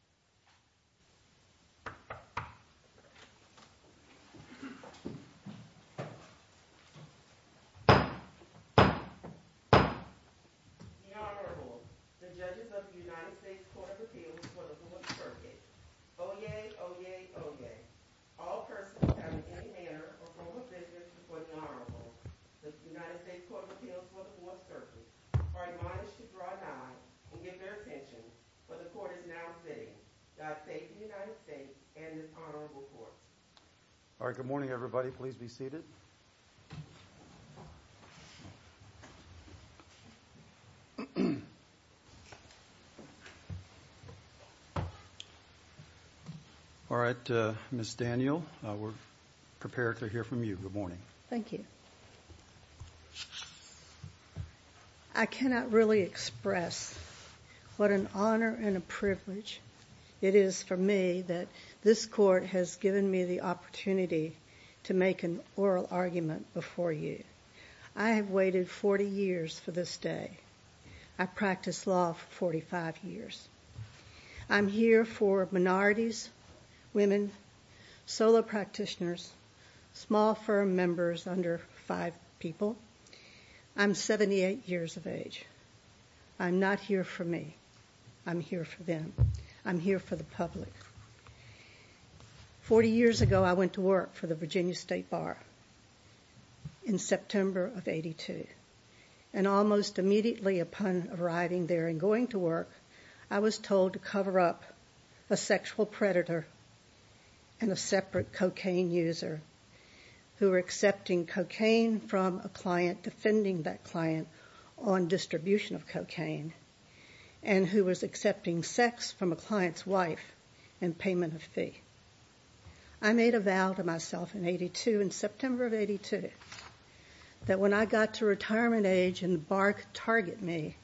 The Honorable, the judges of the United States Court of Appeals for the 4th Circuit, Oyez, Oyez, Oyez. All persons having any manner or form of business before the Honorable, the United States Court of Appeals for the 4th Circuit, are admonished to draw nods and give their attention, for the Court is now sitting. Godspeed to the United States and this Honorable Court. All right, good morning, everybody. Please be seated. All right, Ms. Daniel, we're prepared to hear from you. Good morning. Thank you. I cannot really express what an honor and a privilege it is for me that this Court has given me the opportunity to make an oral argument before you. I have waited 40 years for this day. I practiced law for 45 years. I'm here for minorities, women, solo practitioners, small firm members under five people. I'm 78 years of age. I'm not here for me. I'm here for them. I'm here for the public. Forty years ago, I went to work for the Virginia State Bar in September of 82. And almost immediately upon arriving there and going to work, I was told to cover up a sexual predator and a separate cocaine user who were accepting cocaine from a client, defending that client on distribution of cocaine, and who was accepting sex from a client's wife in payment of fee. I made a vow to myself in 82, in September of 82, that when I got to retirement age and the bar could target me,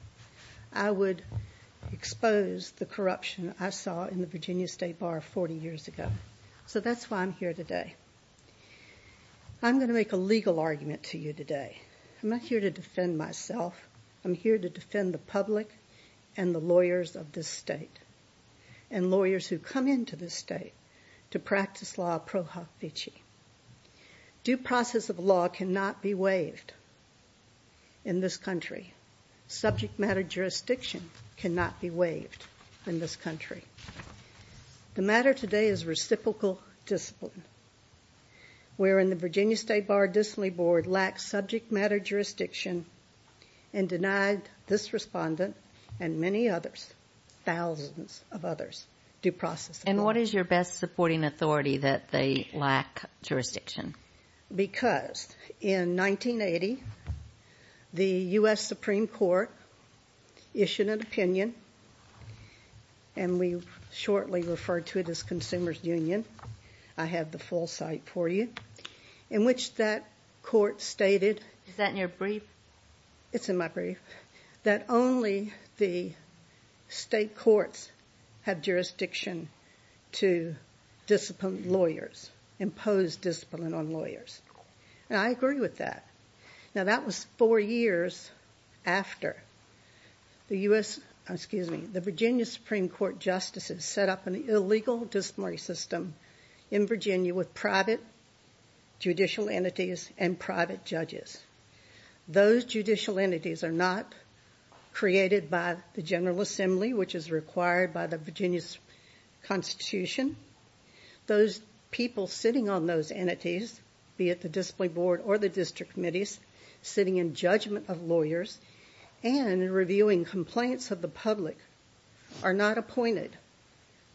I would expose the corruption I saw in the Virginia State Bar 40 years ago. So that's why I'm here today. I'm going to make a legal argument to you today. I'm not here to defend myself. I'm here to defend the public and the lawyers of this state and lawyers who come into this state to practice law pro hoc vici. Due process of law cannot be waived in this country. Subject matter jurisdiction cannot be waived in this country. The matter today is reciprocal discipline, wherein the Virginia State Bar Distinguished Board lacks subject matter jurisdiction and denied this respondent and many others, thousands of others, due process of law. And what is your best supporting authority that they lack jurisdiction? Because in 1980, the U.S. Supreme Court issued an opinion, and we shortly referred to it as Consumers Union. I have the full site for you, in which that court stated... Is that in your brief? It's in my brief. That only the state courts have jurisdiction to discipline lawyers, impose discipline on lawyers. And I agree with that. Now, that was four years after the U.S. Excuse me. The Virginia Supreme Court justices set up an illegal disciplinary system in Virginia with private judicial entities and private judges. Those judicial entities are not created by the General Assembly, which is required by the Virginia Constitution. Those people sitting on those entities, be it the discipline board or the district committees, sitting in judgment of lawyers and reviewing complaints of the public, are not appointed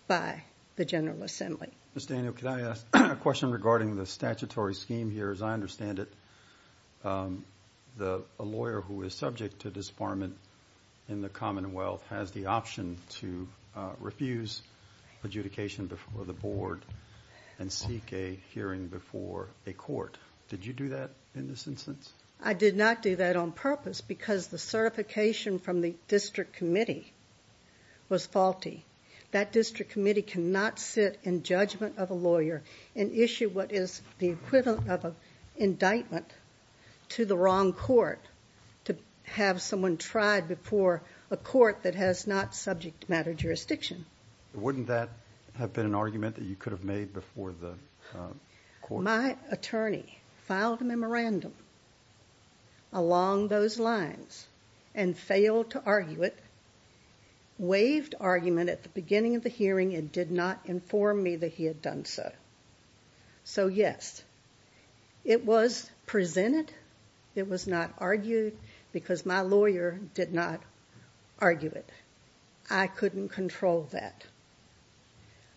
by the General Assembly. Ms. Daniel, can I ask a question regarding the statutory scheme here? As I understand it, a lawyer who is subject to disbarment in the Commonwealth has the option to refuse adjudication before the board and seek a hearing before a court. Did you do that in this instance? I did not do that on purpose because the certification from the district committee was faulty. That district committee cannot sit in judgment of a lawyer and issue what is the equivalent of an indictment to the wrong court to have someone tried before a court that has not subject matter jurisdiction. Wouldn't that have been an argument that you could have made before the court? My attorney filed a memorandum along those lines and failed to argue it, waived argument at the beginning of the hearing and did not inform me that he had done so. So, yes, it was presented. It was not argued because my lawyer did not argue it. I couldn't control that.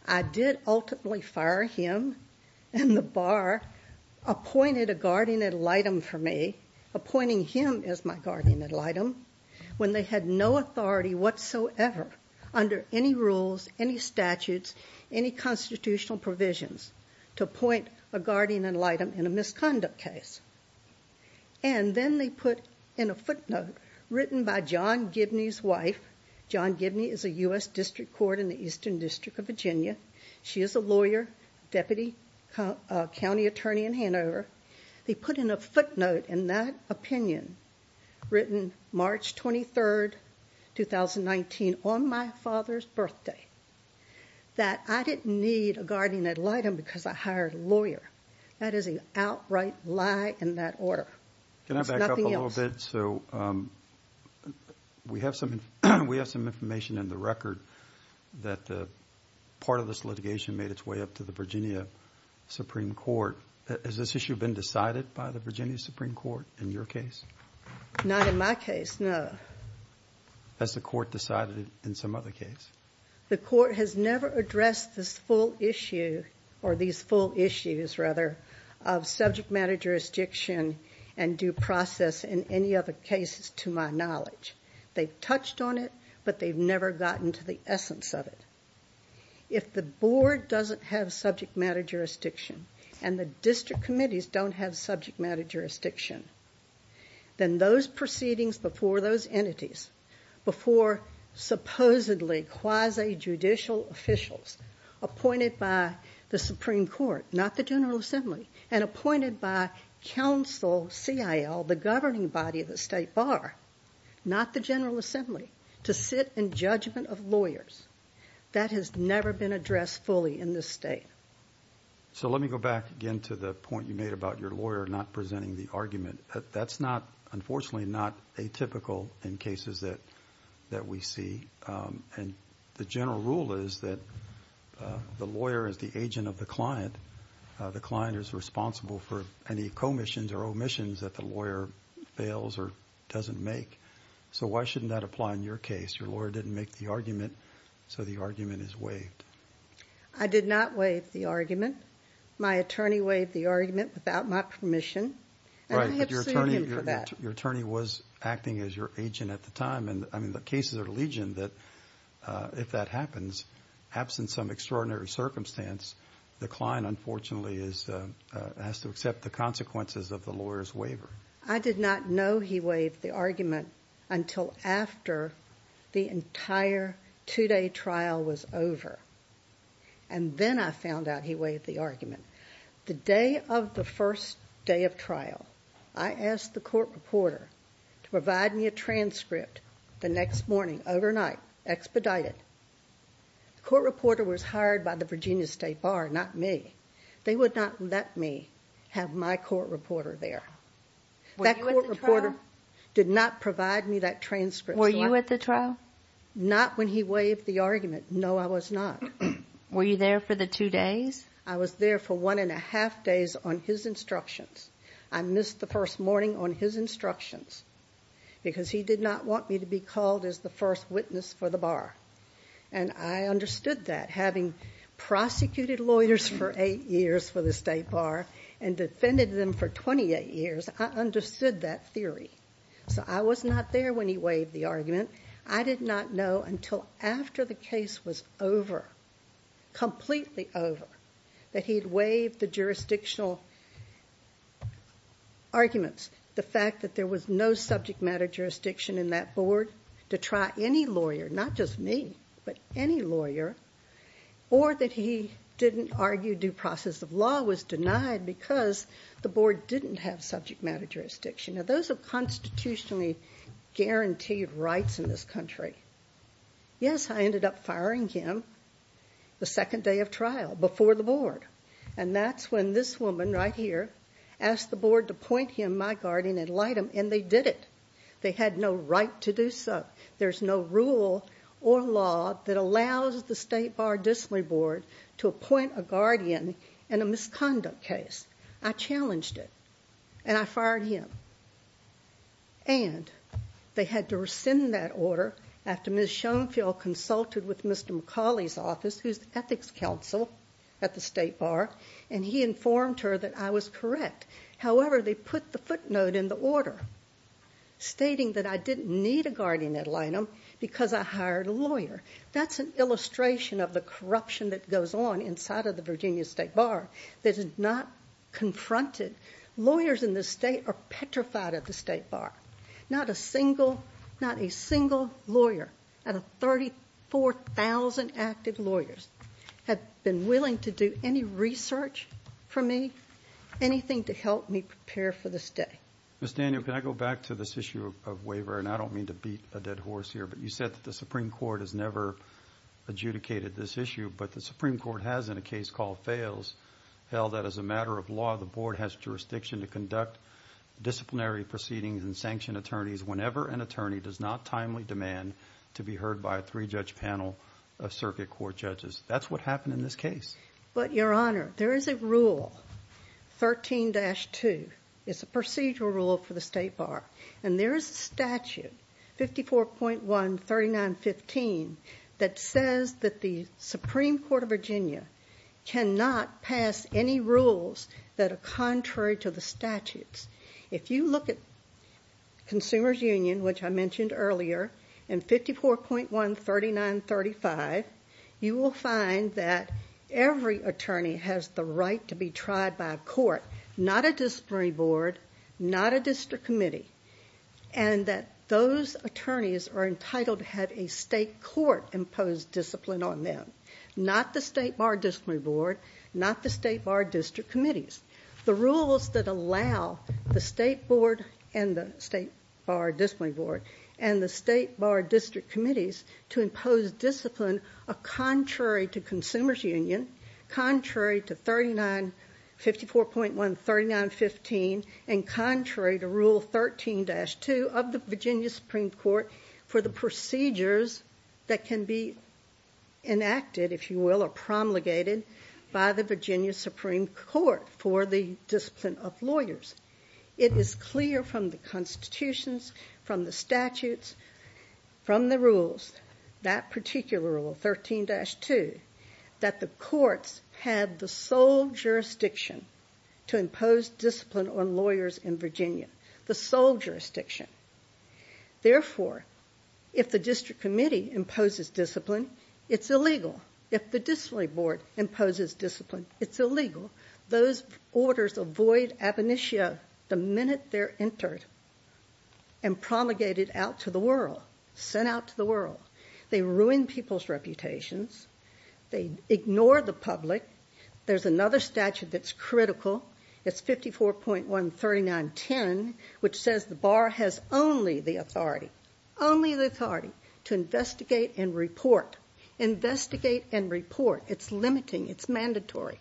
I did ultimately fire him and the bar appointed a guardian ad litem for me, appointing him as my guardian ad litem, when they had no authority whatsoever under any rules, any statutes, any constitutional provisions to appoint a guardian ad litem in a misconduct case. And then they put in a footnote written by John Gibney's wife. John Gibney is a U.S. District Court in the Eastern District of Virginia. She is a lawyer, deputy county attorney in Hanover. They put in a footnote in that opinion, written March 23, 2019, on my father's birthday, that I didn't need a guardian ad litem because I hired a lawyer. That is an outright lie in that order. Can I back up a little bit? It's nothing else. So we have some information in the record that part of this litigation made its way up to the Virginia Supreme Court. Has this issue been decided by the Virginia Supreme Court in your case? Not in my case, no. Has the court decided it in some other case? The court has never addressed this full issue, or these full issues, rather, of subject matter jurisdiction and due process in any other cases to my knowledge. They've touched on it, but they've never gotten to the essence of it. If the board doesn't have subject matter jurisdiction, and the district committees don't have subject matter jurisdiction, then those proceedings before those entities, before supposedly quasi-judicial officials appointed by the Supreme Court, not the General Assembly, and appointed by counsel CIL, the governing body of the state bar, not the General Assembly, to sit in judgment of lawyers, that has never been addressed fully in this state. So let me go back again to the point you made about your lawyer not presenting the argument. That's not, unfortunately, not atypical in cases that we see. And the general rule is that the lawyer is the agent of the client. The client is responsible for any commissions or omissions that the lawyer fails or doesn't make. So why shouldn't that apply in your case? Your lawyer didn't make the argument, so the argument is waived. I did not waive the argument. My attorney waived the argument without my permission. And I have sued him for that. Right, but your attorney was acting as your agent at the time. And, I mean, the cases are legion that if that happens, absent some extraordinary circumstance, the client, unfortunately, has to accept the consequences of the lawyer's waiver. I did not know he waived the argument until after the entire two-day trial was over. And then I found out he waived the argument. The day of the first day of trial, I asked the court reporter to provide me a transcript the next morning, overnight, expedited. The court reporter was hired by the Virginia State Bar, not me. They would not let me have my court reporter there. That court reporter did not provide me that transcript. Were you at the trial? Not when he waived the argument. No, I was not. Were you there for the two days? I was there for one and a half days on his instructions. I missed the first morning on his instructions because he did not want me to be called as the first witness for the bar. And I understood that, having prosecuted lawyers for eight years for the State Bar and defended them for 28 years, I understood that theory. So I was not there when he waived the argument. I did not know until after the case was over, completely over, that he had waived the jurisdictional arguments. The fact that there was no subject matter jurisdiction in that board to try any lawyer or that he didn't argue due process of law was denied because the board didn't have subject matter jurisdiction. Now, those are constitutionally guaranteed rights in this country. Yes, I ended up firing him the second day of trial, before the board. And that's when this woman right here asked the board to point him, my guardian, and light him, and they did it. They had no right to do so. There's no rule or law that allows the State Bar District Board to appoint a guardian in a misconduct case. I challenged it, and I fired him. And they had to rescind that order after Ms. Schoenfeld consulted with Mr. McCauley's office, who's the ethics counsel at the State Bar, and he informed her that I was correct. However, they put the footnote in the order stating that I didn't need a guardian to light him because I hired a lawyer. That's an illustration of the corruption that goes on inside of the Virginia State Bar that is not confronted. Lawyers in this state are petrified of the State Bar. Not a single lawyer out of 34,000 active lawyers have been willing to do any research for me, anything to help me prepare for this day. Ms. Daniel, can I go back to this issue of waiver? And I don't mean to beat a dead horse here, but you said that the Supreme Court has never adjudicated this issue, but the Supreme Court has in a case called Fails held that as a matter of law, the board has jurisdiction to conduct disciplinary proceedings and sanction attorneys whenever an attorney does not timely demand to be heard by a three-judge panel of circuit court judges. That's what happened in this case. But, Your Honor, there is a rule, 13-2. It's a procedural rule for the State Bar. And there is a statute, 54.13915, that says that the Supreme Court of Virginia cannot pass any rules that are contrary to the statutes. If you look at Consumers Union, which I mentioned earlier, and 54.13935, you will find that every attorney has the right to be tried by a court, not a disciplinary board, not a district committee, and that those attorneys are entitled to have a state court impose discipline on them, not the State Bar Disciplinary Board, not the State Bar District Committees. The rules that allow the State Board and the State Bar Disciplinary Board and the State Bar District Committees to impose discipline are contrary to Consumers Union, contrary to 54.13915, and contrary to Rule 13-2 of the Virginia Supreme Court for the procedures that can be enacted, if you will, or promulgated by the Virginia Supreme Court for the discipline of lawyers. It is clear from the constitutions, from the statutes, from the rules, that particular rule, 13-2, that the courts have the sole jurisdiction to impose discipline on lawyers in Virginia, the sole jurisdiction. Therefore, if the district committee imposes discipline, it's illegal. If the disciplinary board imposes discipline, it's illegal. Those orders avoid ab initio the minute they're entered and promulgated out to the world, sent out to the world. They ruin people's reputations. They ignore the public. There's another statute that's critical. It's 54.13910, which says the bar has only the authority, only the authority, to investigate and report. Investigate and report. It's limiting. It's mandatory.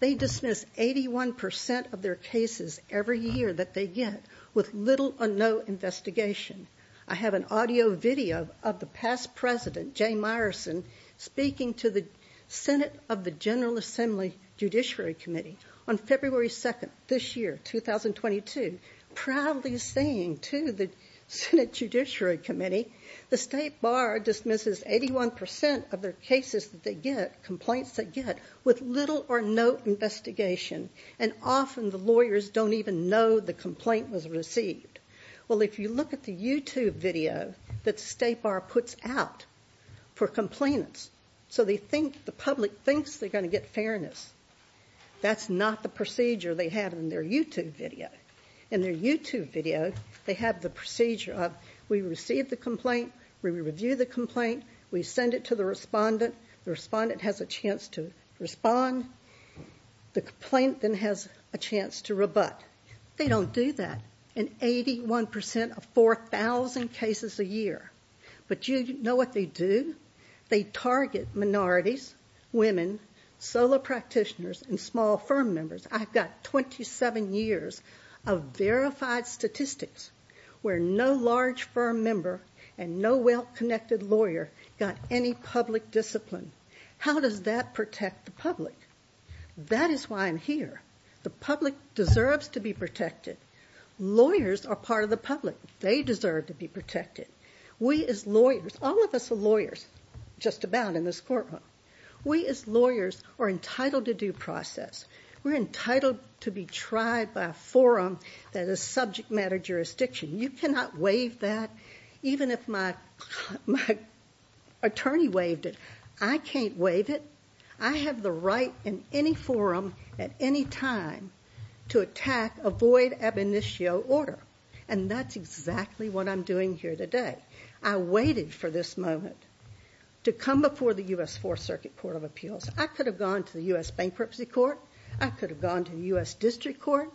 They dismiss 81% of their cases every year that they get with little or no investigation. I have an audio video of the past president, Jay Myerson, speaking to the Senate of the General Assembly Judiciary Committee on February 2nd, this year, 2022, proudly saying to the Senate Judiciary Committee, the state bar dismisses 81% of their cases that they get, complaints they get, with little or no investigation. And often the lawyers don't even know the complaint was received. Well, if you look at the YouTube video that the state bar puts out for complainants, so they think the public thinks they're going to get fairness, that's not the procedure they have in their YouTube video. In their YouTube video, they have the procedure of we receive the complaint, we review the complaint, we send it to the respondent, the respondent has a chance to respond, the complaint then has a chance to rebut. They don't do that in 81% of 4,000 cases a year. But you know what they do? They target minorities, women, solo practitioners, and small firm members. I've got 27 years of verified statistics where no large firm member and no well-connected lawyer got any public discipline. How does that protect the public? That is why I'm here. The public deserves to be protected. Lawyers are part of the public. They deserve to be protected. We as lawyers, all of us are lawyers, just about, in this courtroom. We as lawyers are entitled to due process. We're entitled to be tried by a forum that is subject matter jurisdiction. You cannot waive that, even if my attorney waived it. I can't waive it. I have the right in any forum at any time to attack a void ab initio order, and that's exactly what I'm doing here today. I waited for this moment to come before the U.S. Fourth Circuit Court of Appeals. I could have gone to the U.S. Bankruptcy Court. I could have gone to the U.S. District Court.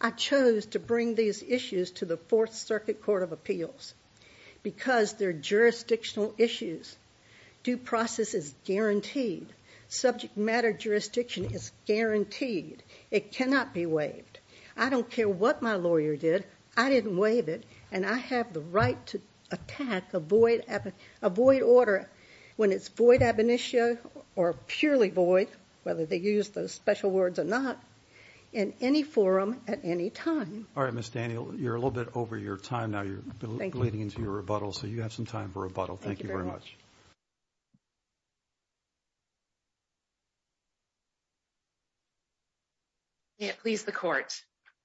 I chose to bring these issues to the Fourth Circuit Court of Appeals because they're jurisdictional issues. Due process is guaranteed. Subject matter jurisdiction is guaranteed. It cannot be waived. I don't care what my lawyer did. I didn't waive it, and I have the right to attack a void order when it's void ab initio or purely void, whether they use those special words or not, in any forum at any time. All right, Ms. Daniel, you're a little bit over your time now. You're leading into your rebuttal, so you have some time for rebuttal. Thank you very much. May it please the Court.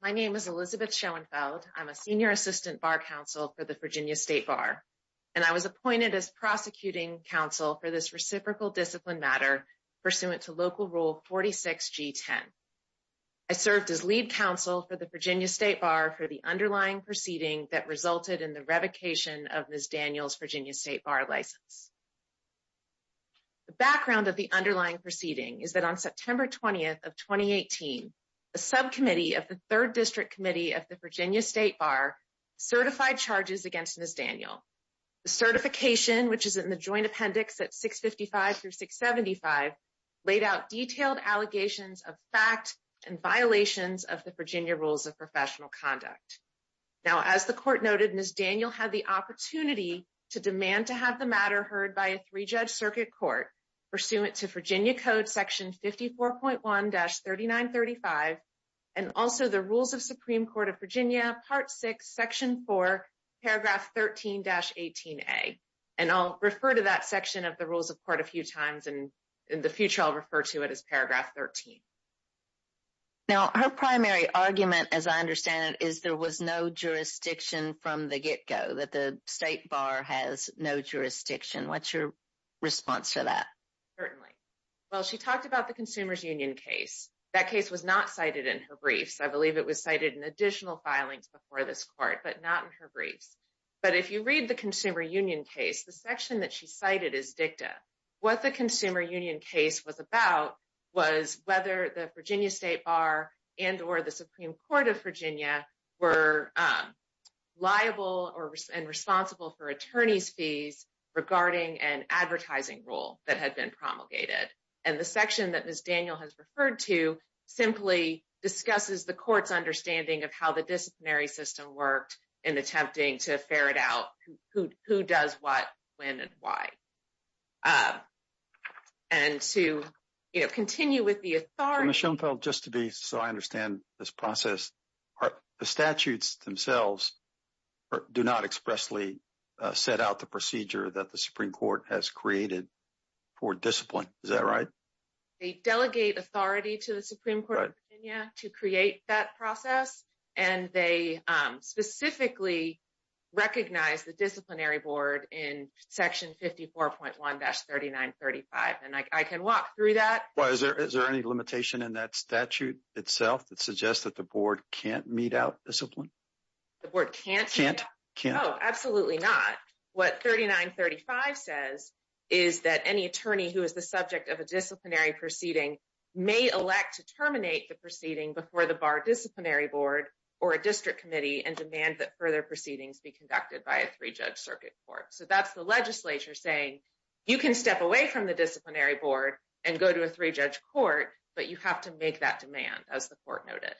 My name is Elizabeth Schoenfeld. I'm a senior assistant bar counsel for the Virginia State Bar, and I was appointed as prosecuting counsel for this reciprocal discipline matter pursuant to Local Rule 46G10. I served as lead counsel for the Virginia State Bar for the underlying proceeding that resulted in the revocation of Ms. Daniel's Virginia State Bar license. The background of the underlying proceeding is that on September 20th of 2018, a subcommittee of the Third District Committee of the Virginia State Bar certified charges against Ms. Daniel. The certification, which is in the joint appendix at 655 through 675, laid out detailed allegations of fact and violations of the Virginia Rules of Professional Conduct. Now, as the Court noted, Ms. Daniel had the opportunity to demand to have the matter heard by a three-judge circuit court pursuant to Virginia Code Section 54.1-3935 and also the Rules of Supreme Court of Virginia, Part 6, Section 4, Paragraph 13-18A. And I'll refer to that section of the Rules of Court a few times, and in the future I'll refer to it as Paragraph 13. Now, her primary argument, as I understand it, is there was no jurisdiction from the get-go, that the State Bar has no jurisdiction. What's your response to that? Certainly. Well, she talked about the Consumer's Union case. That case was not cited in her briefs. I believe it was cited in additional filings before this Court, but not in her briefs. But if you read the Consumer's Union case, the section that she cited is dicta. What the Consumer's Union case was about was whether the Virginia State Bar and or the Supreme Court of Virginia were liable and responsible for attorney's fees regarding an advertising rule that had been promulgated. And the section that Ms. Daniel has referred to simply discusses the Court's understanding of how the disciplinary system worked in attempting to ferret out who does what, when, and why. And to continue with the authority... Ms. Schoenfeld, just to be so I understand this process, the statutes themselves do not expressly set out the procedure that the Supreme Court has created for discipline. Is that right? They delegate authority to the Supreme Court of Virginia to create that process. And they specifically recognize the disciplinary board in Section 54.1-3935. And I can walk through that. Is there any limitation in that statute itself that suggests that the board can't mete out discipline? The board can't? Can't. Oh, absolutely not. What 3935 says is that any attorney who is the subject of a disciplinary proceeding may elect to terminate the proceeding before the bar disciplinary board or a district committee and demand that further proceedings be conducted by a three-judge circuit court. So that's the legislature saying you can step away from the disciplinary board and go to a three-judge court, but you have to make that demand, as the court noted.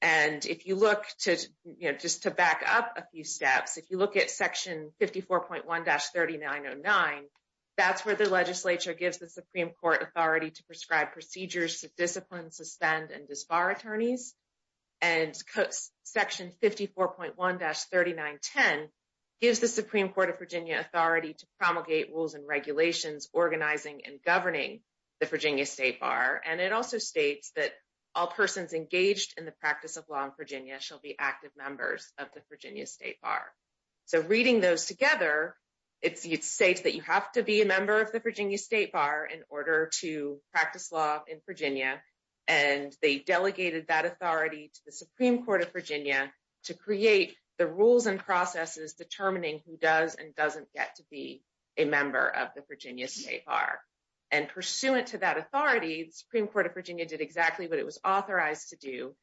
And if you look to, you know, just to back up a few steps, if you look at Section 54.1-3909, that's where the legislature gives the Supreme Court authority to prescribe procedures to discipline, suspend, and disbar attorneys. And Section 54.1-3910 gives the Supreme Court of Virginia authority to promulgate rules and regulations organizing and governing the Virginia State Bar. And it also states that all persons engaged in the practice of law in Virginia shall be active members of the Virginia State Bar. So reading those together, it states that you have to be a member of the Virginia State Bar in order to practice law in Virginia. And they delegated that authority to the Supreme Court of Virginia to create the rules and processes determining who does and doesn't get to be a member of the Virginia State Bar. And pursuant to that authority, the Supreme Court of Virginia did exactly what it was authorized to do.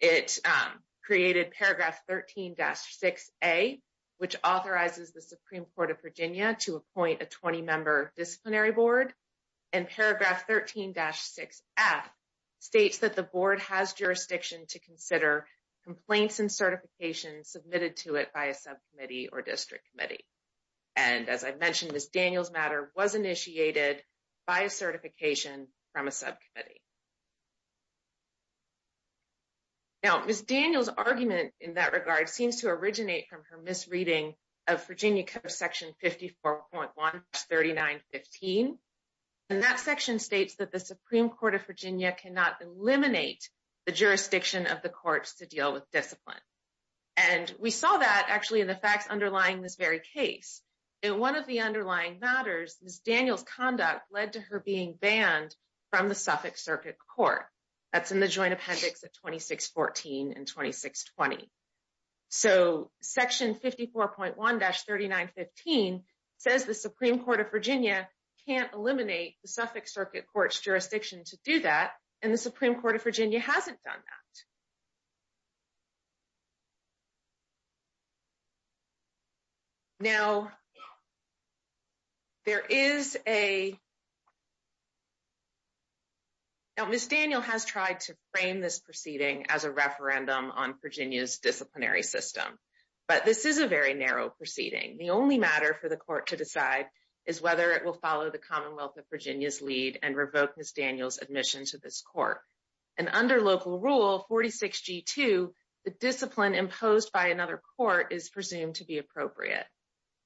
It created Paragraph 13-6A, which authorizes the Supreme Court of Virginia to appoint a 20-member disciplinary board. And Paragraph 13-6F states that the board has jurisdiction to consider complaints and certifications submitted to it by a subcommittee or district committee. And as I mentioned, Ms. Daniels' matter was initiated by a certification from a subcommittee. Now, Ms. Daniels' argument in that regard seems to originate from her misreading of Virginia Code Section 54.1-3915. And that section states that the Supreme Court of Virginia cannot eliminate the jurisdiction of the courts to deal with discipline. And we saw that, actually, in the facts underlying this very case. In one of the underlying matters, Ms. Daniels' conduct led to her being banned from the Suffolk Circuit Court. That's in the Joint Appendix of 2614 and 2620. So, Section 54.1-3915 says the Supreme Court of Virginia can't eliminate the Suffolk Circuit Court's jurisdiction to do that, and the Supreme Court of Virginia hasn't done that. Now, there is a... Now, Ms. Daniels has tried to frame this proceeding as a referendum on Virginia's disciplinary system. But this is a very narrow proceeding. The only matter for the court to decide is whether it will follow the Commonwealth of Virginia's lead and revoke Ms. Daniels' admission to this court. And under Local Rule 46G2, the discipline imposed by another court is presumed to be appropriate.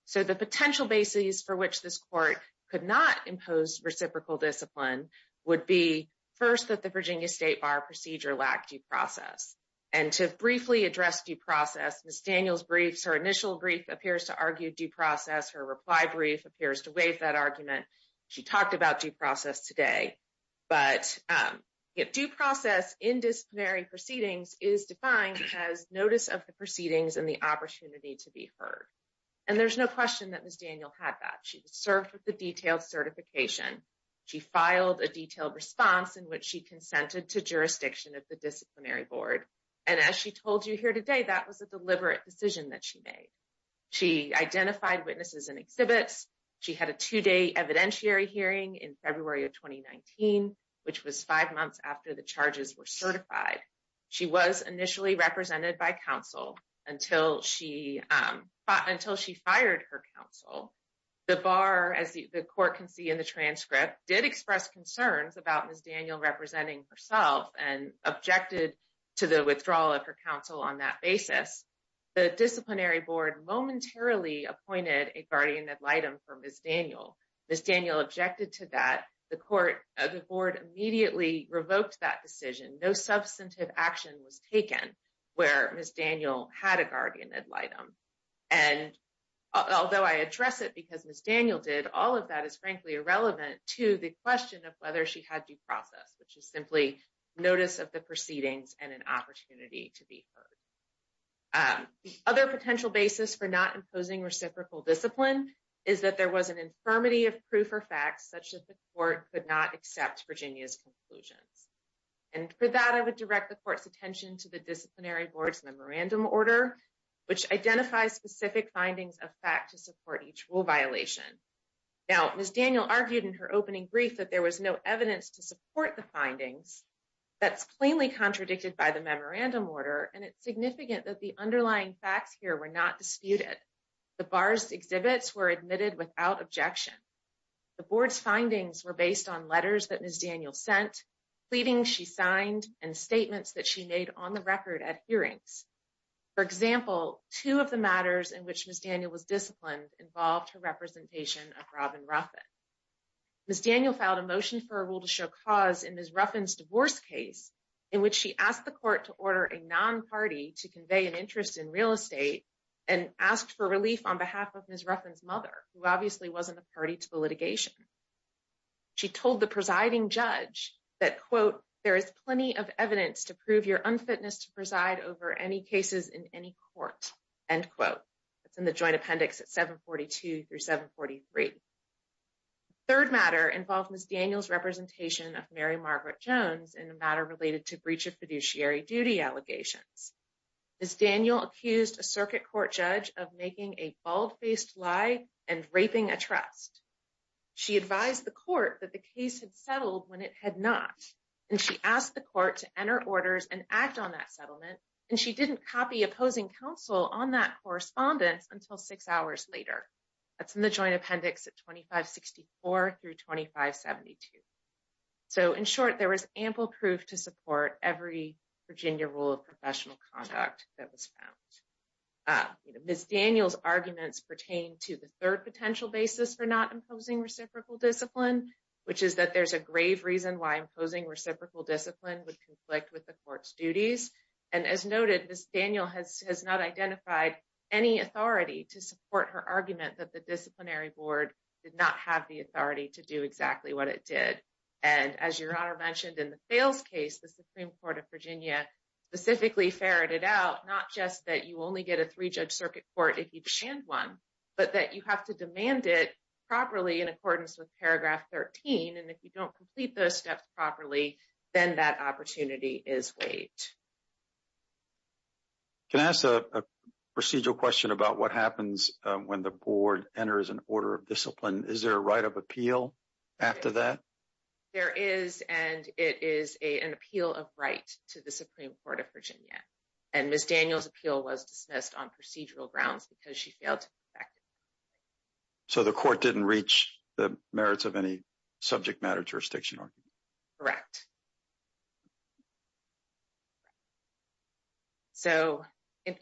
So, the potential basis for which this court could not impose reciprocal discipline would be, first, that the Virginia State Bar procedure lacked due process. And to briefly address due process, Ms. Daniels' briefs, her initial brief, appears to argue due process. Her reply brief appears to waive that argument. She talked about due process today. But due process in disciplinary proceedings is defined as notice of the proceedings and the opportunity to be heard. And there's no question that Ms. Daniels had that. She served with a detailed certification. She filed a detailed response in which she consented to jurisdiction of the disciplinary board. And as she told you here today, that was a deliberate decision that she made. She identified witnesses and exhibits. She had a two-day evidentiary hearing in February of 2019, which was five months after the charges were certified. She was initially represented by counsel until she fired her counsel. The bar, as the court can see in the transcript, did express concerns about Ms. Daniels representing herself and objected to the withdrawal of her counsel on that basis. The disciplinary board momentarily appointed a guardian ad litem for Ms. Daniels. Ms. Daniels objected to that. The board immediately revoked that decision. No substantive action was taken where Ms. Daniels had a guardian ad litem. And although I address it because Ms. Daniels did, all of that is frankly irrelevant to the question of whether she had due process, which is simply notice of the proceedings and an opportunity to be heard. Other potential basis for not imposing reciprocal discipline is that there was an infirmity of proof or facts such that the court could not accept Virginia's conclusions. And for that, I would direct the court's attention to the disciplinary board's memorandum order, which identifies specific findings of fact to support each rule violation. Now, Ms. Daniel argued in her opening brief that there was no evidence to support the findings. That's plainly contradicted by the memorandum order, and it's significant that the underlying facts here were not disputed. The bar's exhibits were admitted without objection. The board's findings were based on letters that Ms. Daniels sent, pleadings she signed, and statements that she made on the record at hearings. For example, two of the matters in which Ms. Daniels was disciplined involved her representation of Robin Ruffin. Ms. Daniel filed a motion for a rule to show cause in Ms. Ruffin's divorce case in which she asked the court to order a non-party to convey an interest in real estate and asked for relief on behalf of Ms. Ruffin's mother, who obviously wasn't a party to the litigation. She told the presiding judge that, quote, there is plenty of evidence to prove your unfitness to preside over any cases in any court, end quote. It's in the joint appendix at 742 through 743. The third matter involved Ms. Daniels' representation of Mary Margaret Jones in a matter related to breach of fiduciary duty allegations. Ms. Daniel accused a circuit court judge of making a bald-faced lie and raping a trust. She advised the court that the case had settled when it had not, and she asked the court to enter orders and act on that settlement, and she didn't copy opposing counsel on that correspondence until six hours later. That's in the joint appendix at 2564 through 2572. So, in short, there was ample proof to support every Virginia rule of professional conduct that was found. Ms. Daniels' arguments pertain to the third potential basis for not imposing reciprocal discipline, which is that there's a grave reason why imposing reciprocal discipline would conflict with the court's duties, and as noted, Ms. Daniel has not identified any authority to support her argument that the disciplinary board did not have the authority to do exactly what it did. And as Your Honor mentioned in the Fales case, the Supreme Court of Virginia specifically ferreted out not just that you only get a three-judge circuit court if you demand one, but that you have to demand it properly in accordance with paragraph 13, and if you don't complete those steps properly, then that opportunity is waived. Can I ask a procedural question about what happens when the board enters an order of discipline? Is there a right of appeal after that? There is, and it is an appeal of right to the Supreme Court of Virginia, and Ms. Daniels' appeal was dismissed on procedural grounds because she failed to be effective. So the court didn't reach the merits of any subject matter jurisdiction argument? Correct. So,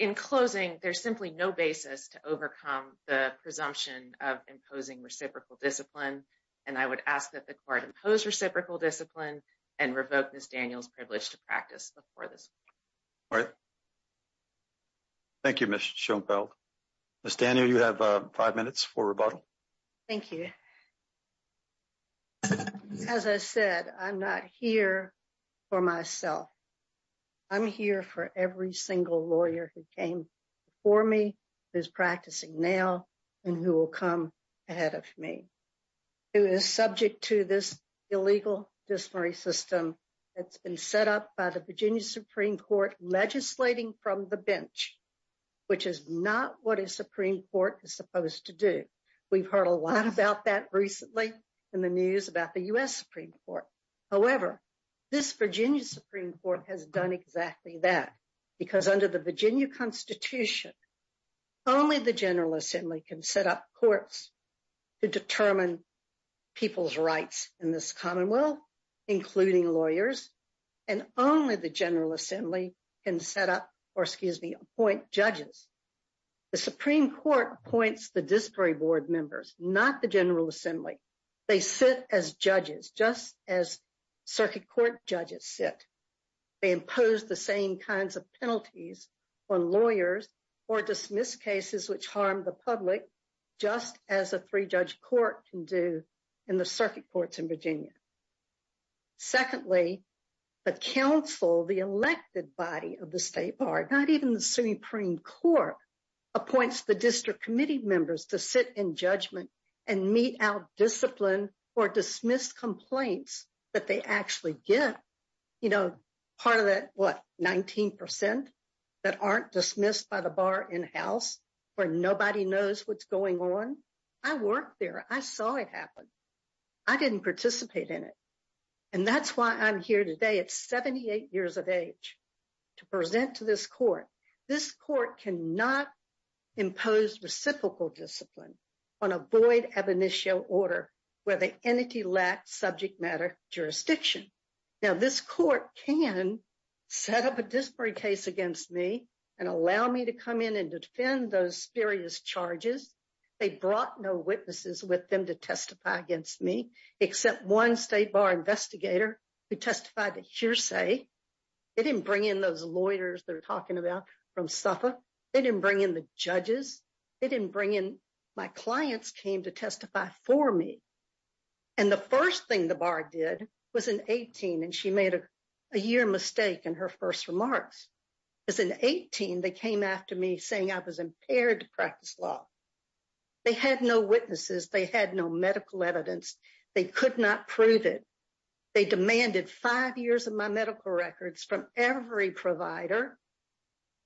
in closing, there's simply no basis to overcome the presumption of imposing reciprocal discipline, and I would ask that the court impose reciprocal discipline and revoke Ms. Daniels' privilege to practice before this court. All right. Thank you, Ms. Schoenfeld. Ms. Daniels, you have five minutes for rebuttal. Thank you. As I said, I'm not here for myself. I'm here for every single lawyer who came before me, who is practicing now, and who will come ahead of me. Who is subject to this illegal disciplinary system that's been set up by the Virginia Supreme Court legislating from the bench, which is not what a Supreme Court is supposed to do. We've heard a lot about that recently in the news about the U.S. Supreme Court. However, this Virginia Supreme Court has done exactly that, because under the Virginia Constitution, only the General Assembly can set up courts to determine people's rights in this commonwealth, including lawyers, and only the General Assembly can appoint judges. The Supreme Court appoints the disciplinary board members, not the General Assembly. They sit as judges, just as circuit court judges sit. They impose the same kinds of penalties on lawyers or dismiss cases which harm the public, just as a three-judge court can do in the circuit courts in Virginia. Secondly, the council, the elected body of the state bar, not even the Supreme Court, appoints the district committee members to sit in judgment and meet out discipline or dismiss complaints that they actually get. You know, part of that, what, 19% that aren't dismissed by the bar in-house, where nobody knows what's going on? I worked there. I saw it happen. I didn't participate in it. And that's why I'm here today at 78 years of age to present to this court. This court cannot impose reciprocal discipline on a void ab initio order where the entity lacks subject matter jurisdiction. Now, this court can set up a disciplinary case against me and allow me to come in and defend those spurious charges. They brought no witnesses with them to testify against me, except one state bar investigator who testified to hearsay. They didn't bring in those lawyers they're talking about from Suffolk. They didn't bring in the judges. They didn't bring in my clients came to testify for me. And the first thing the bar did was in 18, and she made a year mistake in her first remarks. As an 18, they came after me saying I was impaired to practice law. They had no witnesses. They had no medical evidence. They could not prove it. They demanded five years of my medical records from every provider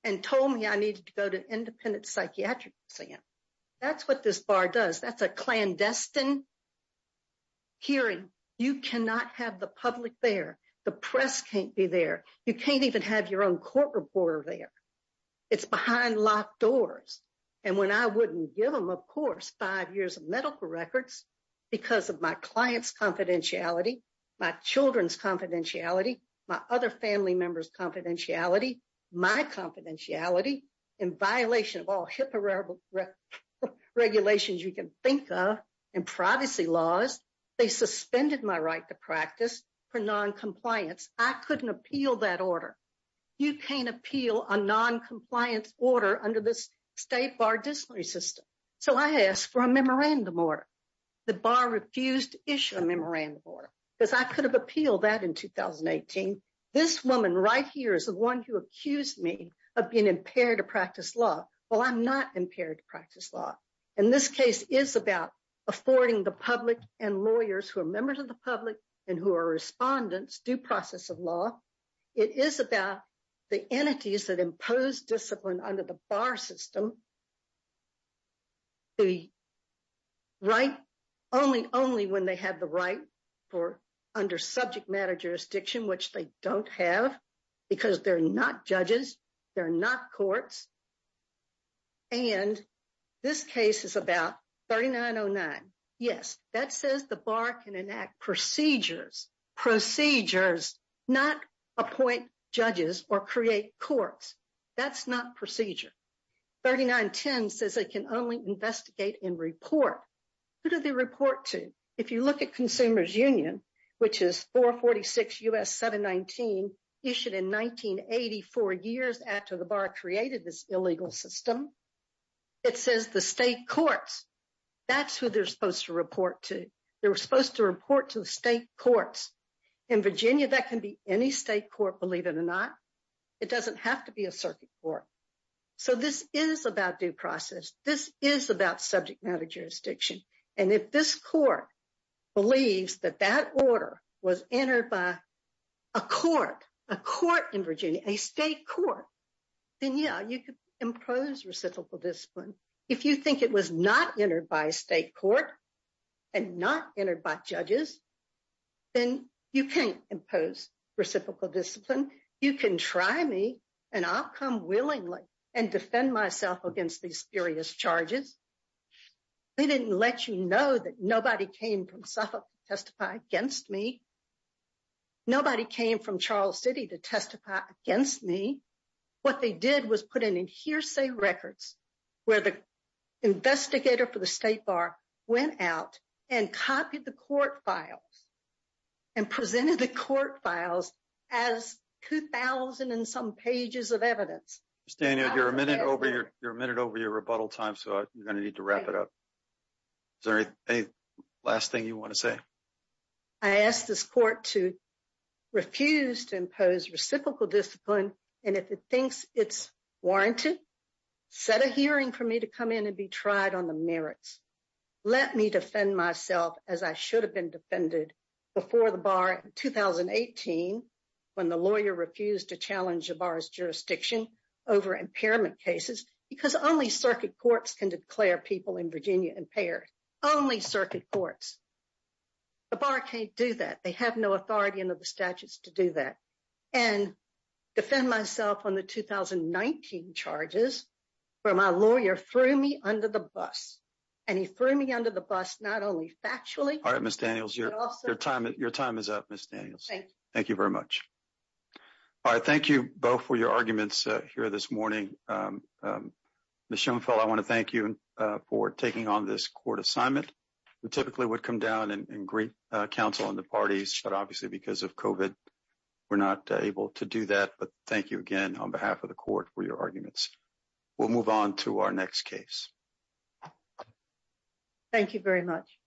and told me I needed to go to independent psychiatric exam. That's what this bar does. That's a clandestine hearing. You cannot have the public there. The press can't be there. You can't even have your own court reporter there. It's behind locked doors. And when I wouldn't give them, of course, five years of medical records because of my client's confidentiality, my children's confidentiality, my other family members' confidentiality, my confidentiality, in violation of all HIPAA regulations you can think of and privacy laws, they suspended my right to practice for noncompliance. I couldn't appeal that order. You can't appeal a noncompliance order under this state bar disciplinary system. So I asked for a memorandum order. The bar refused to issue a memorandum order because I could have appealed that in 2018. This woman right here is the one who accused me of being impaired to practice law. Well, I'm not impaired to practice law. And this case is about affording the public and lawyers who are members of the public and who are respondents due process of law. It is about the entities that impose discipline under the bar system. The right only, only when they have the right for under subject matter jurisdiction, which they don't have because they're not judges, they're not courts. And this case is about 3909. Yes, that says the bar can enact procedures, procedures, not appoint judges or create courts. That's not procedure. 3910 says they can only investigate and report. Who do they report to? If you look at Consumers Union, which is 446 U.S. 719 issued in 1984 years after the bar created this illegal system, it says the state courts. That's who they're supposed to report to. They were supposed to report to the state courts in Virginia. That can be any state court, believe it or not. It doesn't have to be a circuit court. So this is about due process. This is about subject matter jurisdiction. And if this court believes that that order was entered by a court, a court in Virginia, a state court, then, yeah, you could impose reciprocal discipline. If you think it was not entered by a state court and not entered by judges, then you can't impose reciprocal discipline. You can try me and I'll come willingly and defend myself against these serious charges. They didn't let you know that nobody came from Suffolk to testify against me. Nobody came from Charles City to testify against me. What they did was put in hearsay records where the investigator for the state bar went out and copied the court files and presented the court files as 2,000 and some pages of evidence. You're a minute over your rebuttal time, so you're going to need to wrap it up. Is there any last thing you want to say? I asked this court to refuse to impose reciprocal discipline. And if it thinks it's warranted, set a hearing for me to come in and be tried on the merits. Let me defend myself as I should have been defended before the bar in 2018 when the lawyer refused to challenge the bar's jurisdiction over impairment cases because only circuit courts can declare people in Virginia impaired. Only circuit courts. The bar can't do that. They have no authority under the statutes to do that. And defend myself on the 2019 charges where my lawyer threw me under the bus, and he threw me under the bus not only factually. All right, Miss Daniels. Your time is up, Miss Daniels. Thank you. Thank you very much. All right. Thank you both for your arguments here this morning. Miss Schoenfeld, I want to thank you for taking on this court assignment. We typically would come down and greet counsel and the parties, but obviously because of COVID, we're not able to do that. But thank you again on behalf of the court for your arguments. We'll move on to our next case. Thank you very much.